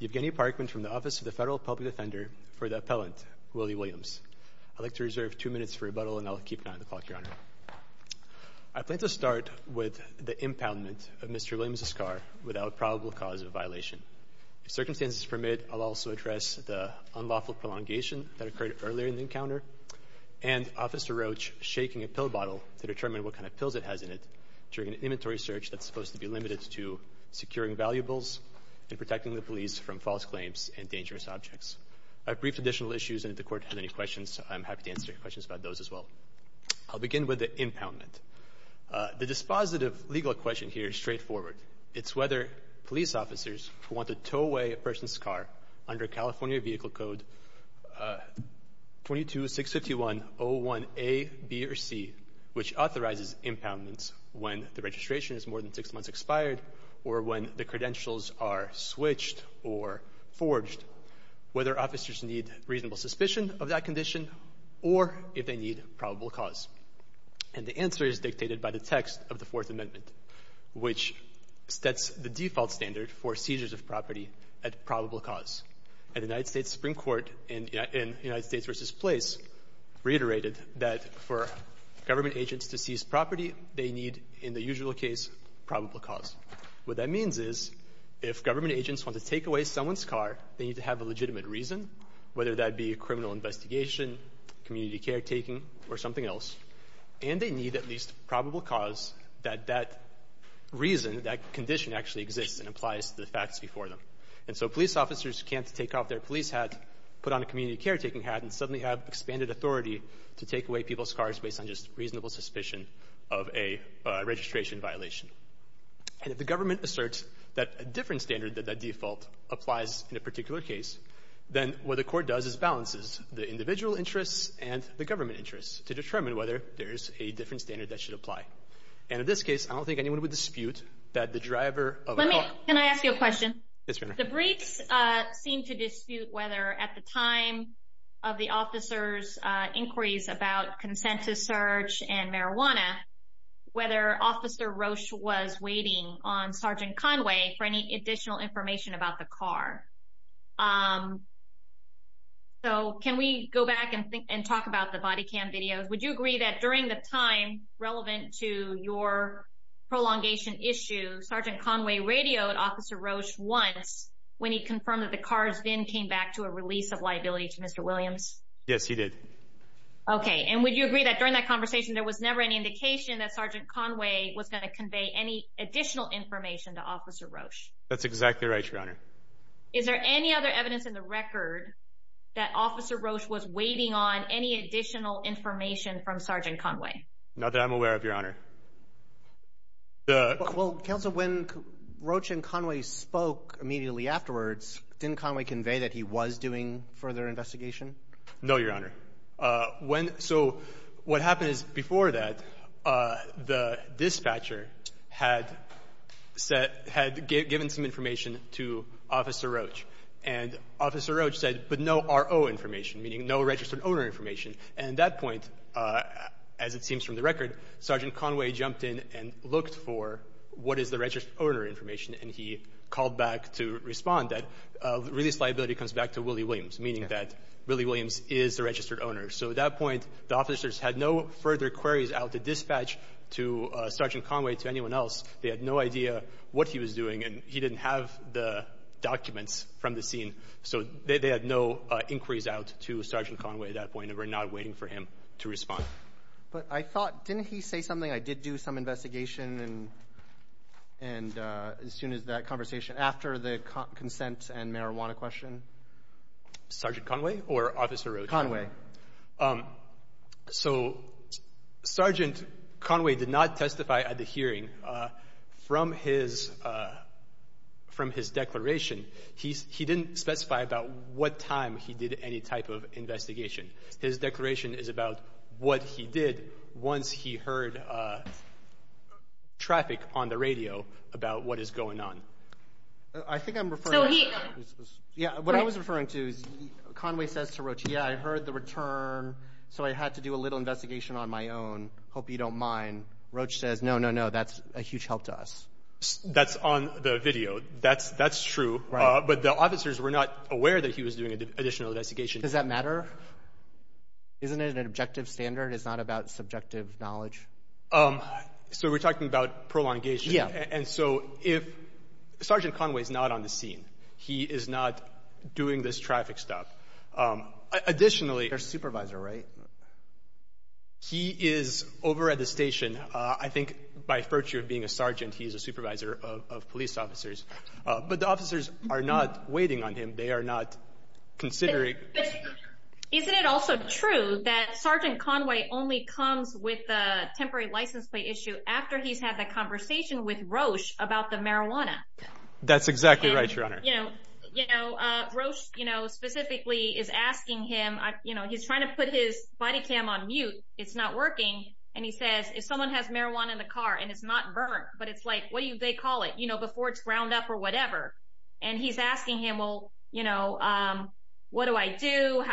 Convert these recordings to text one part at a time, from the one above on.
Evgeny Parkman from the Office of the Federal Public Defender for the Appellant Willie Williams. I'd like to reserve two minutes for rebuttal and I'll keep an eye on the clock, Your Honor. I plan to start with the impoundment of Mr. Williams' car without probable cause of violation. If circumstances permit, I'll also address without probable cause of violation. unlawful prolongation that occurred earlier in the encounter, and Officer Roach shaking a pill bottle to determine what kind of pills it has in it during an inventory search that's supposed to be limited to securing valuables and protecting the police from false claims and dangerous objects. I've briefed additional issues and if the Court has any questions, I'm happy to answer questions about those as well. I'll begin with the impoundment. The dispositive legal question here is straightforward. It's whether police officers who want to tow away a person's car under California Vehicle Code 22651.01a, b, or c, which authorizes impoundments when the registration is more than six months expired or when the credentials are switched or forged, whether officers need reasonable suspicion of that condition or if they need probable cause. And the answer is dictated by the text of the Fourth Amendment, which sets the default standard for seizures of property at probable cause. And the United States Supreme Court in United States v. Place reiterated that for government agents to seize property, they need, in the usual case, probable cause. What that means is if government agents want to take away someone's car, they need to have a legitimate reason, whether that be a criminal investigation, community caretaking, or something else. And they need at least probable cause that that reason, that condition actually exists and applies to the facts before them. And so police officers can't take off their police hat, put on a community caretaking hat, and suddenly have expanded authority to take away people's cars based on just reasonable suspicion of a registration violation. And if the government asserts that a different standard, that that default applies in a particular case, then what the Court does is balances the individual interests and the government interests to determine whether there's a different standard that should apply. And in this case, I don't think anyone would dispute that the driver of a car... Can I ask you a question? Yes, ma'am. The briefs seem to dispute whether at the time of the officer's inquiries about consent to search and marijuana, whether Officer Roche was waiting on Sergeant Conway for any additional information about the car. So can we go back and talk about the body cam videos? Would you agree that during the time relevant to your prolongation issue, Sergeant Conway radioed Officer Roche once when he confirmed that the car's VIN came back to a release of liability to Mr. Williams? Yes, he did. Okay. And would you agree that during that conversation there was never any indication that Sergeant Conway was going to convey any additional information to Officer Roche? That's exactly right, Your Honor. Is there any other evidence in the record that Officer Roche was waiting on any additional information from Sergeant Conway? Not that I'm aware of, Your Honor. Well, Counsel, when Roche and Conway spoke immediately afterwards, didn't Conway convey that he was doing further investigation? No, Your Honor. So what happened is before that, the dispatcher had given some information to Officer Roche, and Officer Roche said, but no RO information, meaning no registered owner information. And at that point, as it seems from the record, Sergeant Conway jumped in and looked for what is the registered owner information, and he called back to respond that release of liability comes back to Willie Williams, meaning that Willie Williams is the registered owner. So at that point, the officers had no further queries out to dispatch to Sergeant Conway, to anyone else. They had no idea what he was doing, and he didn't have the documents from the scene. So they had no inquiries out to Sergeant Conway at that point, and were not waiting for him to respond. But I thought, didn't he say something, I did do some investigation, and as soon as that conversation, after the consent and marijuana question? Sergeant Conway or Officer Roche? Conway. So Sergeant Conway did not testify at the hearing. From his declaration, he didn't specify about what time he did any type of investigation. His declaration is about what he did once he heard traffic on the radio about what is going on. So he... So I had to do a little investigation on my own. Hope you don't mind. Roche says, no, no, no, that's a huge help to us. That's on the video. That's true. Right. But the officers were not aware that he was doing additional investigation. Does that matter? Isn't it an objective standard? It's not about subjective knowledge? So we're talking about prolongation. Yeah. And so if Sergeant Conway is not on the scene, he is not doing this traffic stop. Additionally... He's their supervisor, right? He is over at the station. I think by virtue of being a sergeant, he's a supervisor of police officers. But the officers are not waiting on him. They are not considering... Isn't it also true that Sergeant Conway only comes with the temporary license plate issue after he's had the conversation with Roche about the marijuana? That's exactly right, Your Honor. Roche specifically is asking him... He's trying to put his body cam on mute. It's not working. And he says, if someone has marijuana in the car and it's not burnt, but it's like... What do they call it? Before it's ground up or whatever. And he's asking him, well, what do I do?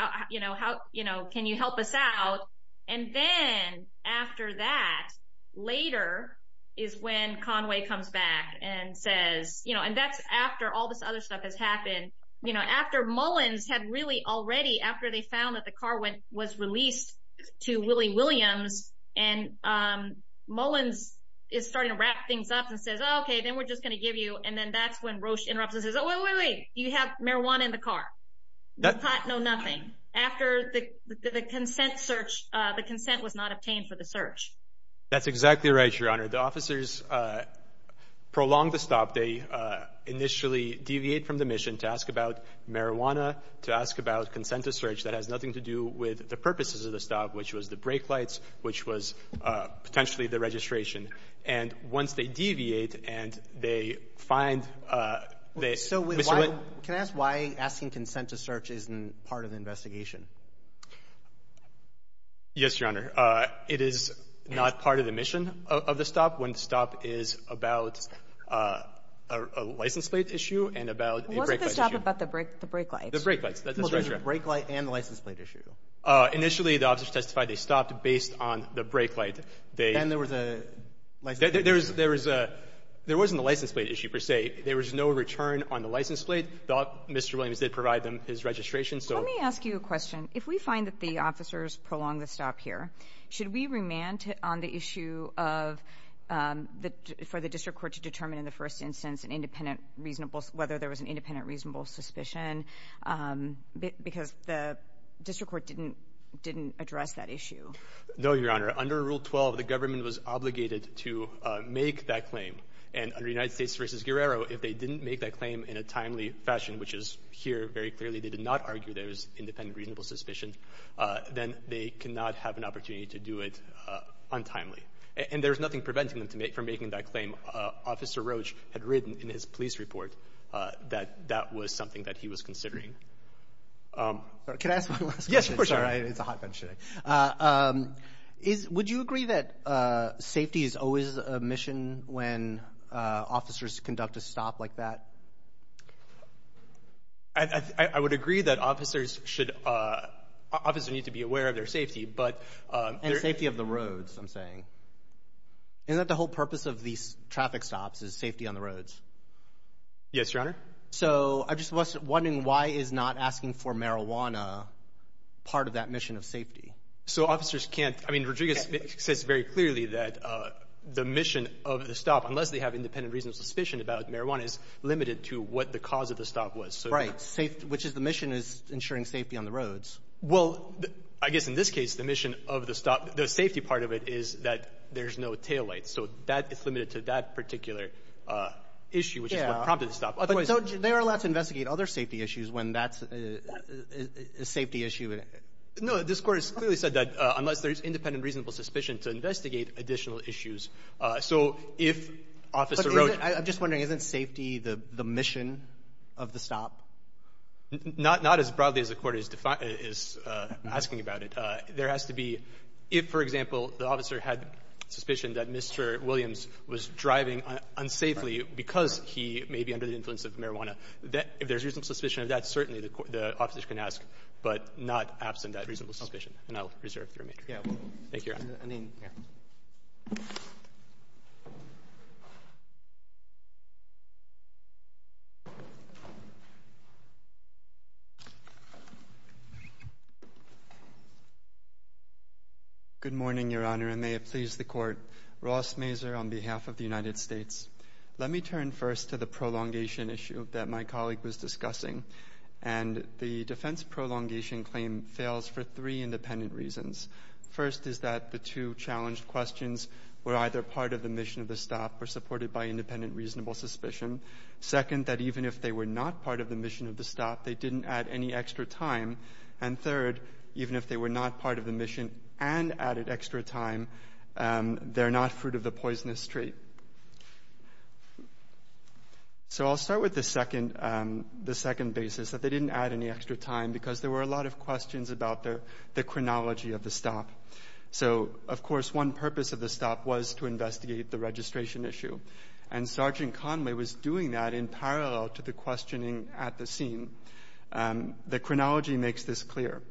Can you help us out? And then after that, later, is when Conway comes back and says... And that's after all this other stuff has happened. After Mullins had really already... After they found that the car was released to Willie Williams and Mullins is starting to wrap things up and says, okay, then we're just going to give you... And then that's when Roche interrupts and says, wait, wait, wait. You have marijuana in the car. The pot, no nothing. After the consent search, the consent was not obtained for the search. That's exactly right, Your Honor. The officers prolonged the stop. They initially deviate from the mission to ask about marijuana, to ask about consent to search. That has nothing to do with the purposes of the stop, which was the brake lights, which was potentially the registration. And once they deviate and they find... So can I ask why asking consent to search isn't part of the investigation? Yes, Your Honor. It is not part of the mission of the stop when the stop is about a license plate issue and about a brake light issue. Wasn't the stop about the brake lights? The brake lights. Well, there's a brake light and the license plate issue. Initially, the officers testified they stopped based on the brake light. Then there was a license plate issue. There was a — there wasn't a license plate issue, per se. There was no return on the license plate. Mr. Williams did provide them his registration, so... Let me ask you a question. If we find that the officers prolonged the stop here, should we remand on the issue of for the district court to determine in the first instance an independent reasonable — whether there was an independent reasonable suspicion because the district court didn't address that issue? No, Your Honor. Under Rule 12, the government was obligated to make that claim. And under United States v. Guerrero, if they didn't make that claim in a timely fashion, which is here very clearly they did not argue there was independent reasonable suspicion, then they cannot have an opportunity to do it untimely. And there's nothing preventing them from making that claim. Officer Roach had written in his police report that that was something that he was considering. Can I ask one last question? Yes, of course, Your Honor. It's a hot bunch today. Would you agree that safety is always a mission when officers conduct a stop like that? I would agree that officers need to be aware of their safety. And safety of the roads, I'm saying. Isn't that the whole purpose of these traffic stops is safety on the roads? Yes, Your Honor. So I'm just wondering why is not asking for marijuana part of that mission of safety? So officers can't. I mean, Rodriguez says very clearly that the mission of the stop, unless they have independent reasonable suspicion about marijuana, is limited to what the cause of the stop was. Right, which is the mission is ensuring safety on the roads. Well, I guess in this case the mission of the stop, the safety part of it, is that there's no taillights. So they are allowed to investigate other safety issues when that's a safety issue? No. This Court has clearly said that unless there's independent reasonable suspicion to investigate additional issues. So if officer road — I'm just wondering, isn't safety the mission of the stop? Not as broadly as the Court is asking about it. There has to be — if, for example, the officer had suspicion that Mr. Williams was driving unsafely because he may be under the influence of marijuana, if there's reasonable suspicion of that, certainly the officer can ask, but not absent that reasonable suspicion. And I'll reserve the remainder. Yeah. Thank you, Your Honor. I mean, yeah. Good morning, Your Honor, and may it please the Court. Ross Mazur on behalf of the United States. Let me turn first to the prolongation issue that my colleague was discussing. And the defense prolongation claim fails for three independent reasons. First is that the two challenged questions were either part of the mission of the stop or supported by independent reasonable suspicion. Second, that even if they were not part of the mission of the stop, they didn't add any extra time. And third, even if they were not part of the mission and added extra time, they're not fruit of the poisonous tree. So I'll start with the second basis, that they didn't add any extra time because there were a lot of questions about the chronology of the stop. So, of course, one purpose of the stop was to investigate the registration issue. And Sergeant Conway was doing that in parallel to the questioning at the scene. The chronology makes this clear.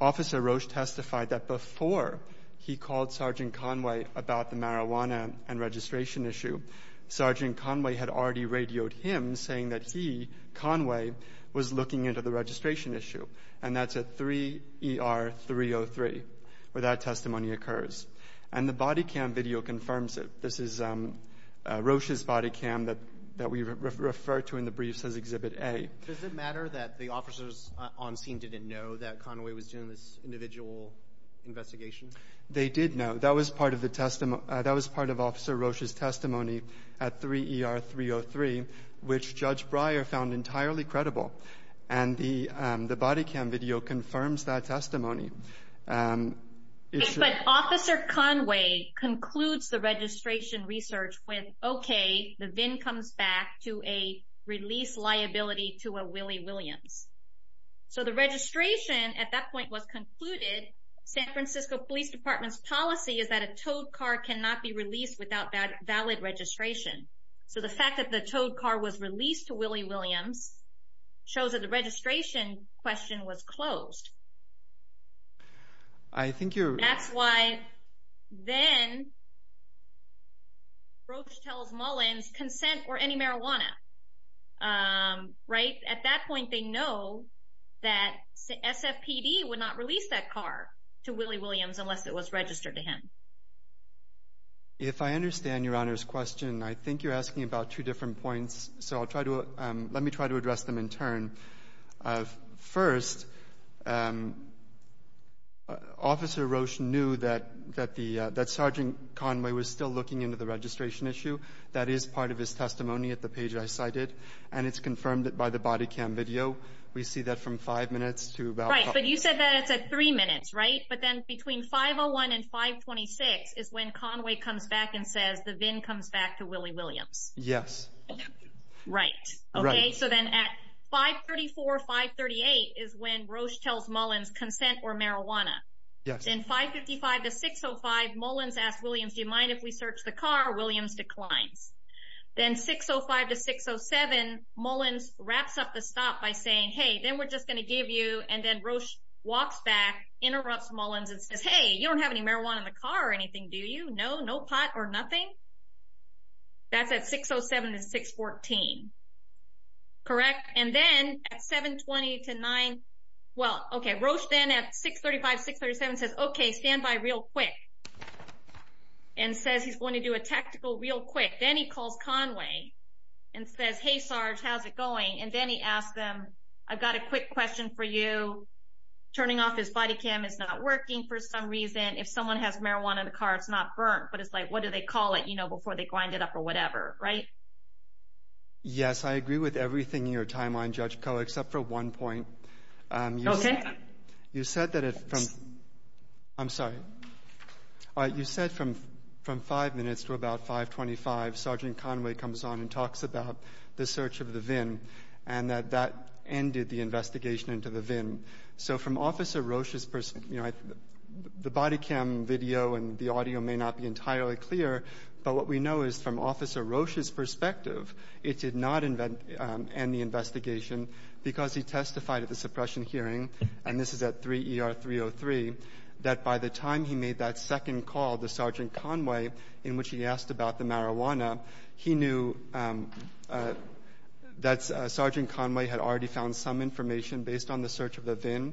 Officer Roche testified that before he called Sergeant Conway about the marijuana and registration issue, Sergeant Conway had already radioed him saying that he, Conway, was looking into the registration issue. And that's at 3 ER 303 where that testimony occurs. And the body cam video confirms it. This is Roche's body cam that we refer to in the briefs as Exhibit A. Does it matter that the officers on scene didn't know that Conway was doing this individual investigation? They did know. That was part of Officer Roche's testimony at 3 ER 303, which Judge Breyer found entirely credible. And the body cam video confirms that testimony. But Officer Conway concludes the registration research with, okay, the VIN comes back to a release liability to a Willie Williams. So the registration at that point was concluded. San Francisco Police Department's policy is that a towed car cannot be released without valid registration. So the fact that the towed car was released to Willie Williams shows that the registration question was closed. That's why then Roche tells Mullins, consent or any marijuana. At that point they know that SFPD would not release that car to Willie Williams unless it was registered to him. If I understand Your Honor's question, I think you're asking about two different points. So let me try to address them in turn. First, Officer Roche knew that Sergeant Conway was still looking into the registration issue. That is part of his testimony at the page I cited, and it's confirmed by the body cam video. We see that from five minutes to about five minutes. Right, but you said that it's at three minutes, right? But then between 5.01 and 5.26 is when Conway comes back and says the VIN comes back to Willie Williams. Yes. Right. Okay, so then at 5.34, 5.38 is when Roche tells Mullins, consent or marijuana. Yes. Then 5.55 to 6.05, Mullins asks Williams, do you mind if we search the car? Williams declines. Then 6.05 to 6.07, Mullins wraps up the stop by saying, hey, then we're just going to give you, and then Roche walks back, interrupts Mullins and says, hey, you don't have any marijuana in the car or anything, do you? No, no pot or nothing? That's at 6.07 to 6.14, correct? And then at 7.20 to 9.00, well, okay, Roche then at 6.35, 6.37 says, okay, stand by real quick, and says he's going to do a tactical real quick. Then he calls Conway and says, hey, Sarge, how's it going? And then he asks them, I've got a quick question for you. Turning off his body cam is not working for some reason. If someone has marijuana in the car, it's not burnt, but it's like, what do they call it, you know, before they grind it up or whatever, right? Yes, I agree with everything in your timeline, Judge Koh, except for one point. Okay. You said that if from – I'm sorry. You said from five minutes to about 5.25, Sergeant Conway comes on and talks about the search of the VIN and that that ended the investigation into the VIN. So from Officer Roche's – you know, the body cam video and the audio may not be entirely clear, but what we know is from Officer Roche's perspective, it did not end the investigation because he testified at the suppression hearing, and this is at 3 ER 303, that by the time he made that second call to Sergeant Conway in which he asked about the marijuana, he knew that Sergeant Conway had already found some information based on the search of the VIN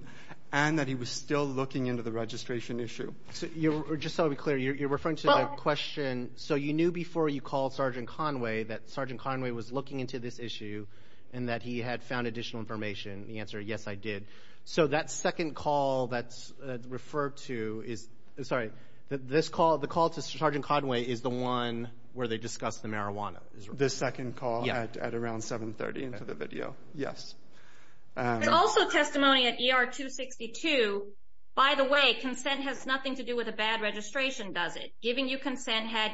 and that he was still looking into the registration issue. Just so I'll be clear, you're referring to the question – so you knew before you called Sergeant Conway that Sergeant Conway was looking into this issue and that he had found additional information. The answer, yes, I did. So that second call that's referred to is – sorry. The call to Sergeant Conway is the one where they discussed the marijuana. The second call at around 730 into the video, yes. There's also testimony at ER 262, by the way, consent has nothing to do with a bad registration, does it? Giving you consent had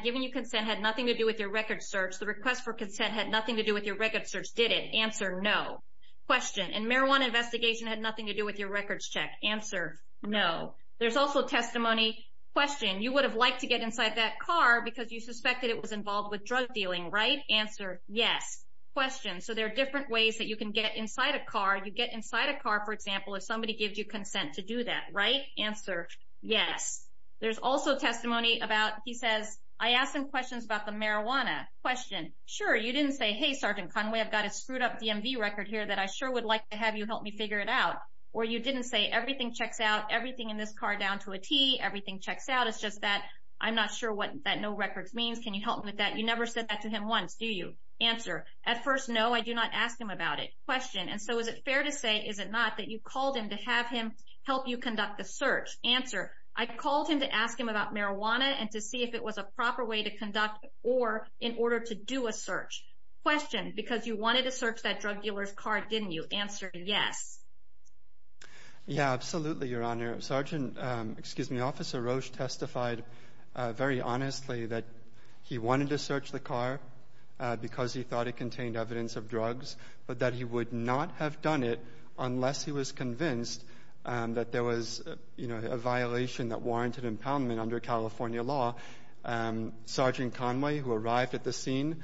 nothing to do with your record search. The request for consent had nothing to do with your record search, did it? Answer, no. Question, and marijuana investigation had nothing to do with your records check. Answer, no. There's also testimony – question, you would have liked to get inside that car because you suspected it was involved with drug dealing, right? Answer, yes. Question, so there are different ways that you can get inside a car. You get inside a car, for example, if somebody gives you consent to do that, right? Answer, yes. There's also testimony about – he says, I asked him questions about the marijuana. Question, sure, you didn't say, hey, Sergeant Conway, I've got a screwed up DMV record here that I sure would like to have you help me figure it out. Or you didn't say, everything checks out, everything in this car down to a T, everything checks out, it's just that I'm not sure what that no records means. Can you help me with that? You never said that to him once, do you? Answer, at first, no, I do not ask him about it. Question, and so is it fair to say, is it not, that you called him to have him help you conduct the search? Answer, I called him to ask him about marijuana and to see if it was a proper way to conduct or in order to do a search. Question, because you wanted to search that drug dealer's car, didn't you? Answer, yes. Yeah, absolutely, Your Honor. Sergeant, excuse me, Officer Roche testified very honestly that he wanted to search the car because he thought it contained evidence of drugs, but that he would not have done it unless he was convinced that there was a violation that warranted impoundment under California law. Sergeant Conway, who arrived at the scene,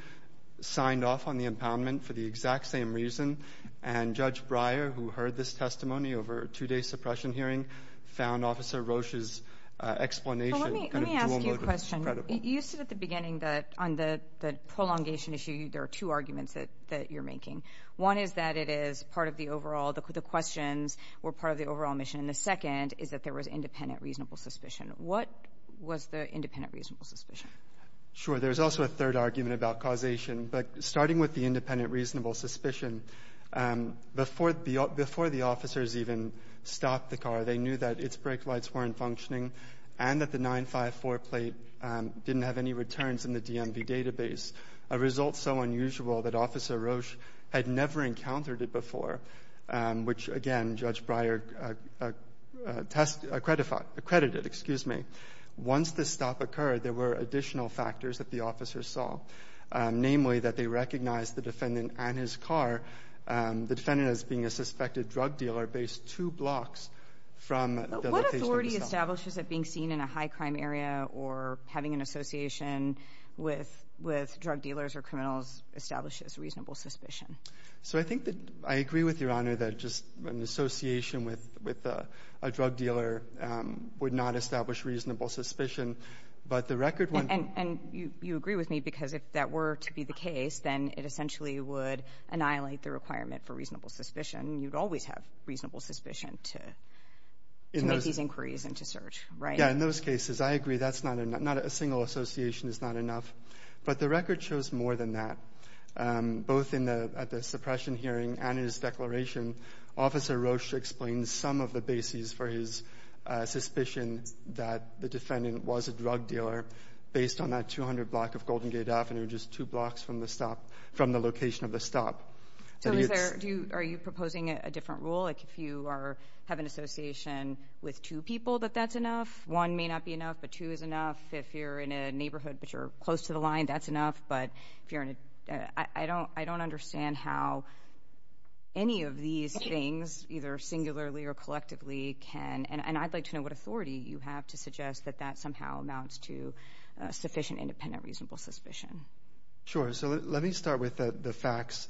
signed off on the impoundment for the exact same reason and Judge Breyer, who heard this testimony over a two-day suppression hearing, found Officer Roche's explanation kind of dual motives. Let me ask you a question. You said at the beginning that on the prolongation issue, there are two arguments that you're making. One is that it is part of the overall, the questions were part of the overall mission, and the second is that there was independent reasonable suspicion. What was the independent reasonable suspicion? Sure, there's also a third argument about causation, but starting with the independent reasonable suspicion, before the officers even stopped the car, they knew that its brake lights weren't functioning and that the 954 plate didn't have any returns in the DMV database, a result so unusual that Officer Roche had never encountered it before, which, again, Judge Breyer tested, accredited, excuse me. Once this stop occurred, there were additional factors that the officers saw, namely that they recognized the defendant and his car. The defendant, as being a suspected drug dealer, based two blocks from the location of the stop. What authority establishes that being seen in a high-crime area or having an association with drug dealers or criminals establishes reasonable suspicion? So I think that I agree with Your Honor that just an association with a drug dealer would not establish reasonable suspicion. And you agree with me because if that were to be the case, then it essentially would annihilate the requirement for reasonable suspicion. You'd always have reasonable suspicion to make these inquiries into search, right? Yeah, in those cases, I agree. A single association is not enough. But the record shows more than that. Both at the suppression hearing and in his declaration, Officer Rocha explains some of the bases for his suspicion that the defendant was a drug dealer based on that 200 block of Golden Gate Avenue, just two blocks from the location of the stop. So are you proposing a different rule? Like if you have an association with two people, that that's enough? One may not be enough, but two is enough. If you're in a neighborhood but you're close to the line, that's enough. I don't understand how any of these things, either singularly or collectively, can and I'd like to know what authority you have to suggest that that somehow amounts to sufficient independent reasonable suspicion. Sure. So let me start with the facts.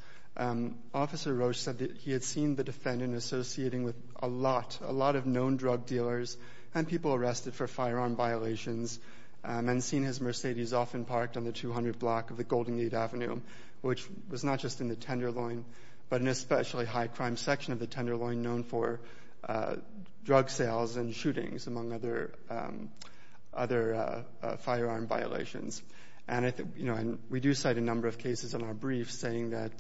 Officer Rocha said that he had seen the defendant associating with a lot, a lot of known drug dealers and people arrested for firearm violations and seen his Mercedes often parked on the 200 block of the Golden Gate Avenue, which was not just in the Tenderloin but an especially high crime section of the Tenderloin known for drug sales and shootings, among other firearm violations. And we do cite a number of cases in our briefs saying that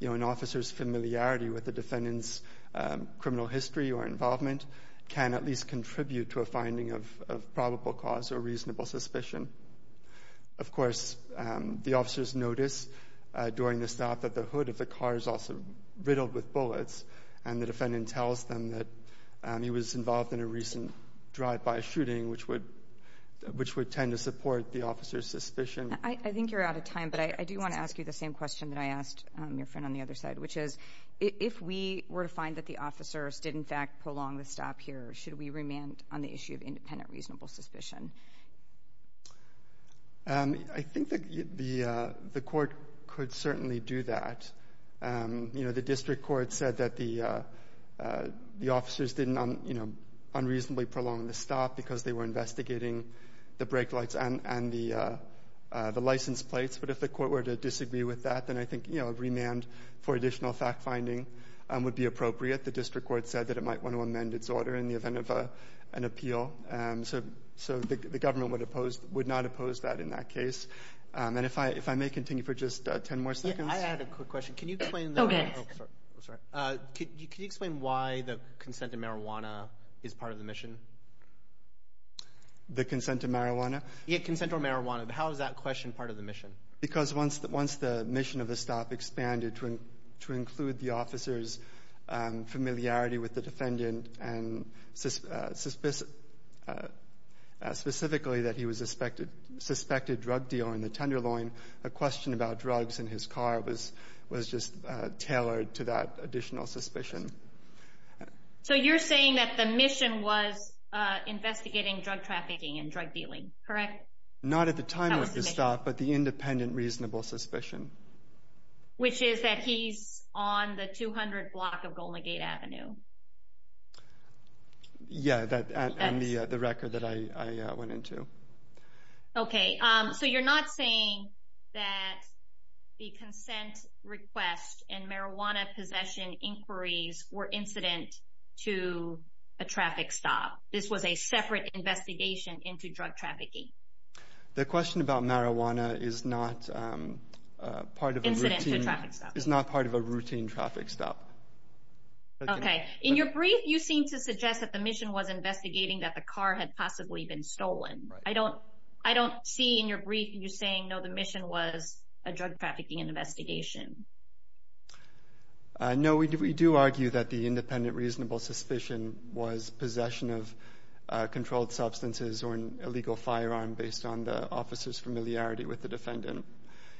an officer's familiarity with the defendant's finding of probable cause or reasonable suspicion. Of course, the officers notice during the stop that the hood of the car is also riddled with bullets, and the defendant tells them that he was involved in a recent drive-by shooting, which would tend to support the officer's suspicion. I think you're out of time, but I do want to ask you the same question that I asked your friend on the other side, which is if we were to find that the officers did, in fact, prolong the stop here, should we remand on the issue of independent reasonable suspicion? I think the court could certainly do that. You know, the district court said that the officers didn't unreasonably prolong the stop because they were investigating the brake lights and the license plates. But if the court were to disagree with that, then I think, you know, a remand for additional fact-finding would be appropriate. The district court said that it might want to amend its order in the event of an appeal. So the government would not oppose that in that case. And if I may continue for just 10 more seconds. I had a quick question. Can you explain why the consent to marijuana is part of the mission? The consent to marijuana? Yeah, consent to marijuana. How is that question part of the mission? Because once the mission of the stop expanded to include the officer's familiarity with the defendant and specifically that he was a suspected drug dealer in the Tenderloin, a question about drugs in his car was just tailored to that additional suspicion. So you're saying that the mission was investigating drug trafficking and drug dealing, correct? Not at the time of the stop, but the independent reasonable suspicion. Which is that he's on the 200 block of Golden Gate Avenue. Yeah, and the record that I went into. Okay. So you're not saying that the consent request and marijuana possession inquiries were incident to a traffic stop. This was a separate investigation into drug trafficking. The question about marijuana is not part of a routine traffic stop. Okay. In your brief, you seem to suggest that the mission was investigating that the car had possibly been stolen. I don't see in your brief you saying, no, the mission was a drug trafficking investigation. No, we do argue that the independent reasonable suspicion was possession of controlled substances or an illegal firearm based on the officer's familiarity with the defendant.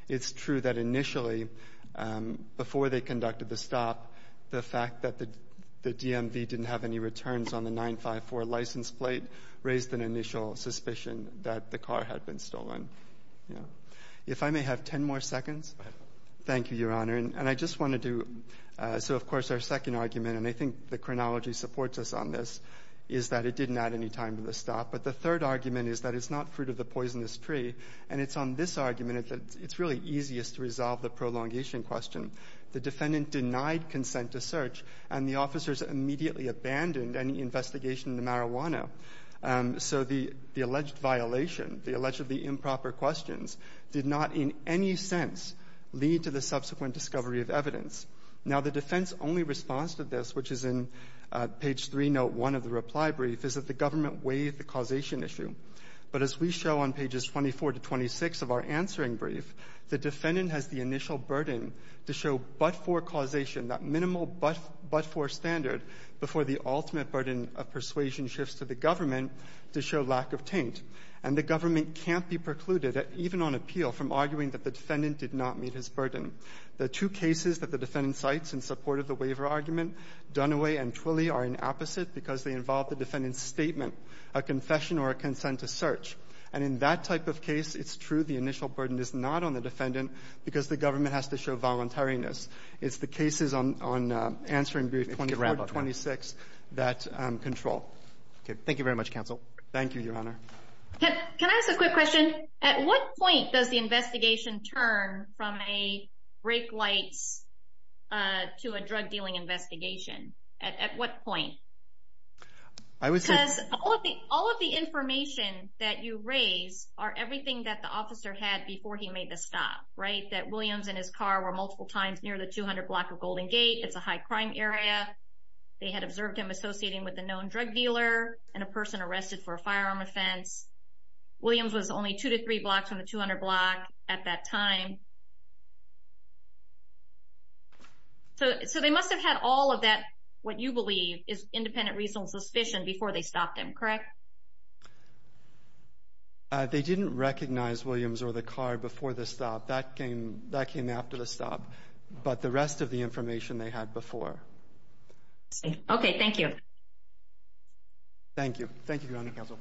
It's true that initially, before they conducted the stop, the fact that the DMV didn't have any returns on the 954 license plate raised an initial suspicion that the car had been stolen. If I may have 10 more seconds. Go ahead. Thank you, Your Honor. And I just want to do so, of course, our second argument, and I think the chronology supports us on this, is that it didn't add any time to the stop. But the third argument is that it's not fruit of the poisonous tree. And it's on this argument that it's really easiest to resolve the prolongation question. The defendant denied consent to search, and the officers immediately abandoned any investigation into marijuana. So the alleged violation, the allegedly improper questions, did not in any sense lead to the subsequent discovery of evidence. Now, the defense only response to this, which is in page 301 of the reply brief, is that the government waived the causation issue. But as we show on pages 24 to 26 of our answering brief, the defendant has the initial burden to show but-for causation, that minimal but-for standard, before the ultimate burden of persuasion shifts to the government to show lack of taint. And the government can't be precluded, even on appeal, from arguing that the defendant did not meet his burden. The two cases that the defendant cites in support of the waiver argument, Dunaway and Twilley, are in opposite because they involve the defendant's statement, a confession or a consent to search. And in that type of case, it's true the initial burden is not on the defendant because the government has to show voluntariness. It's the cases on answering brief 24 to 26 that control. Okay. Thank you very much, counsel. Thank you, Your Honor. Can I ask a quick question? At what point does the investigation turn from a brake lights to a drug dealing investigation? At what point? I would say- Because all of the information that you raise are everything that the officer had before he made the stop, right? That Williams and his car were multiple times near the 200 block of Golden Gate. It's a high crime area. They had observed him associating with a known drug dealer and a person arrested for a firearm offense. Williams was only two to three blocks from the 200 block at that time. So they must have had all of that, what you believe, is independent reasonable suspicion before they stopped him, correct? They didn't recognize Williams or the car before the stop. That came after the stop. But the rest of the information they had before. Okay. Thank you. Thank you. Thank you, Your Honor. Counsel.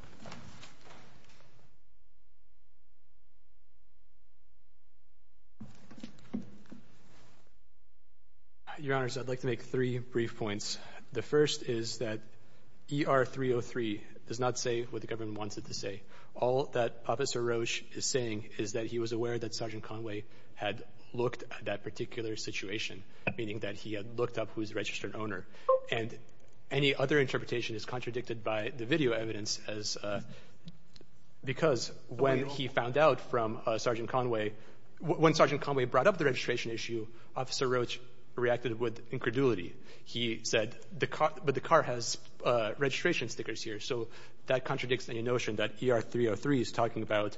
Your Honors, I'd like to make three brief points. The first is that ER-303 does not say what the government wants it to say. All that Officer Roach is saying is that he was aware that Sergeant Conway had looked at that particular situation, meaning that he had looked up who is the registered owner. And any other interpretation is contradicted by the video evidence, because when he found out from Sergeant Conway, when Sergeant Conway brought up the registration issue, Officer Roach reacted with incredulity. He said, but the car has registration stickers here. So that contradicts the notion that ER-303 is talking about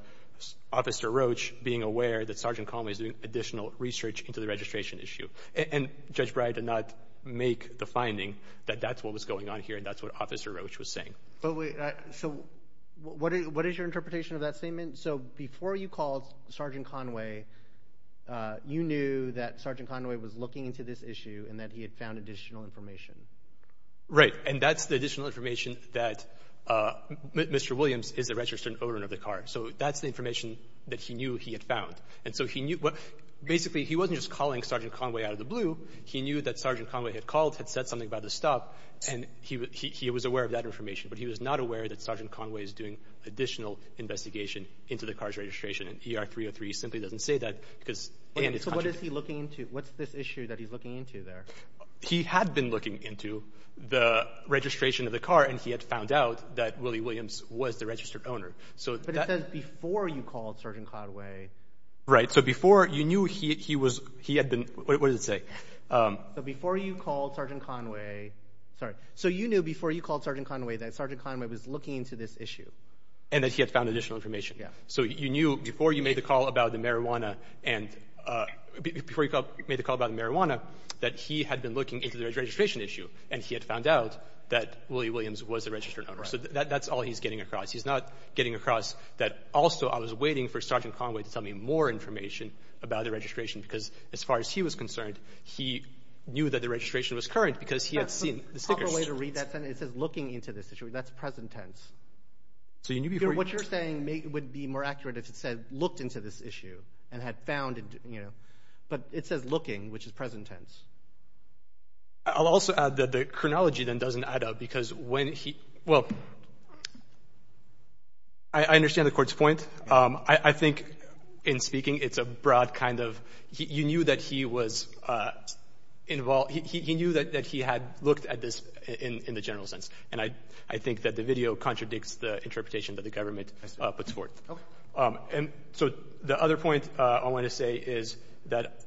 Officer Roach being aware that Sergeant Conway is doing additional research into the registration issue. And Judge Breyer did not make the finding that that's what was going on here and that's what Officer Roach was saying. So what is your interpretation of that statement? So before you called Sergeant Conway, you knew that Sergeant Conway was looking into this issue and that he had found additional information. Right. And that's the additional information that Mr. Williams is the registered owner of the car. So that's the information that he knew he had found. And so he knew — basically, he wasn't just calling Sergeant Conway out of the blue. He knew that Sergeant Conway had called, had said something about the stop, and he was aware of that information. But he was not aware that Sergeant Conway is doing additional investigation into the car's registration. And ER-303 simply doesn't say that because — So what is he looking into? What's this issue that he's looking into there? He had been looking into the registration of the car and he had found out that Willie Williams was the registered owner. But it says before you called Sergeant Conway. Right. So before you knew he was — he had been — what does it say? So before you called Sergeant Conway — sorry. So you knew before you called Sergeant Conway that Sergeant Conway was looking into this issue. And that he had found additional information. Yeah. So you knew before you made the call about the marijuana and — He had been looking into the registration issue, and he had found out that Willie Williams was the registered owner. So that's all he's getting across. He's not getting across that also I was waiting for Sergeant Conway to tell me more information about the registration because as far as he was concerned, he knew that the registration was current because he had seen the stickers. That's the proper way to read that sentence. It says looking into this issue. That's present tense. So you knew before you — What you're saying would be more accurate if it said looked into this issue and had found, you know. But it says looking, which is present tense. I'll also add that the chronology then doesn't add up because when he — Well, I understand the Court's point. I think in speaking it's a broad kind of — You knew that he was involved — He knew that he had looked at this in the general sense. And I think that the video contradicts the interpretation that the government puts forth. And so the other point I want to say is that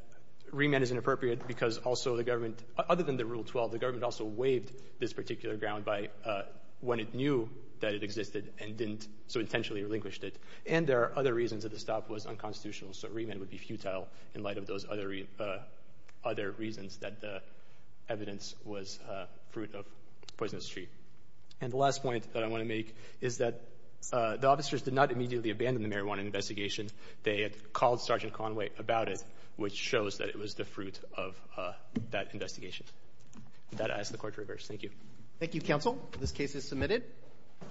remand is inappropriate because also the government, other than the Rule 12, the government also waived this particular ground by when it knew that it existed and didn't so intentionally relinquish it. And there are other reasons that the stop was unconstitutional. So remand would be futile in light of those other reasons that the evidence was fruit of poisonous tree. And the last point that I want to make is that the officers did not immediately abandon the marijuana investigation. They had called Sergeant Conway about it, which shows that it was the fruit of that investigation. That I ask the Court to reverse. Thank you. Thank you, Counsel. This case is submitted.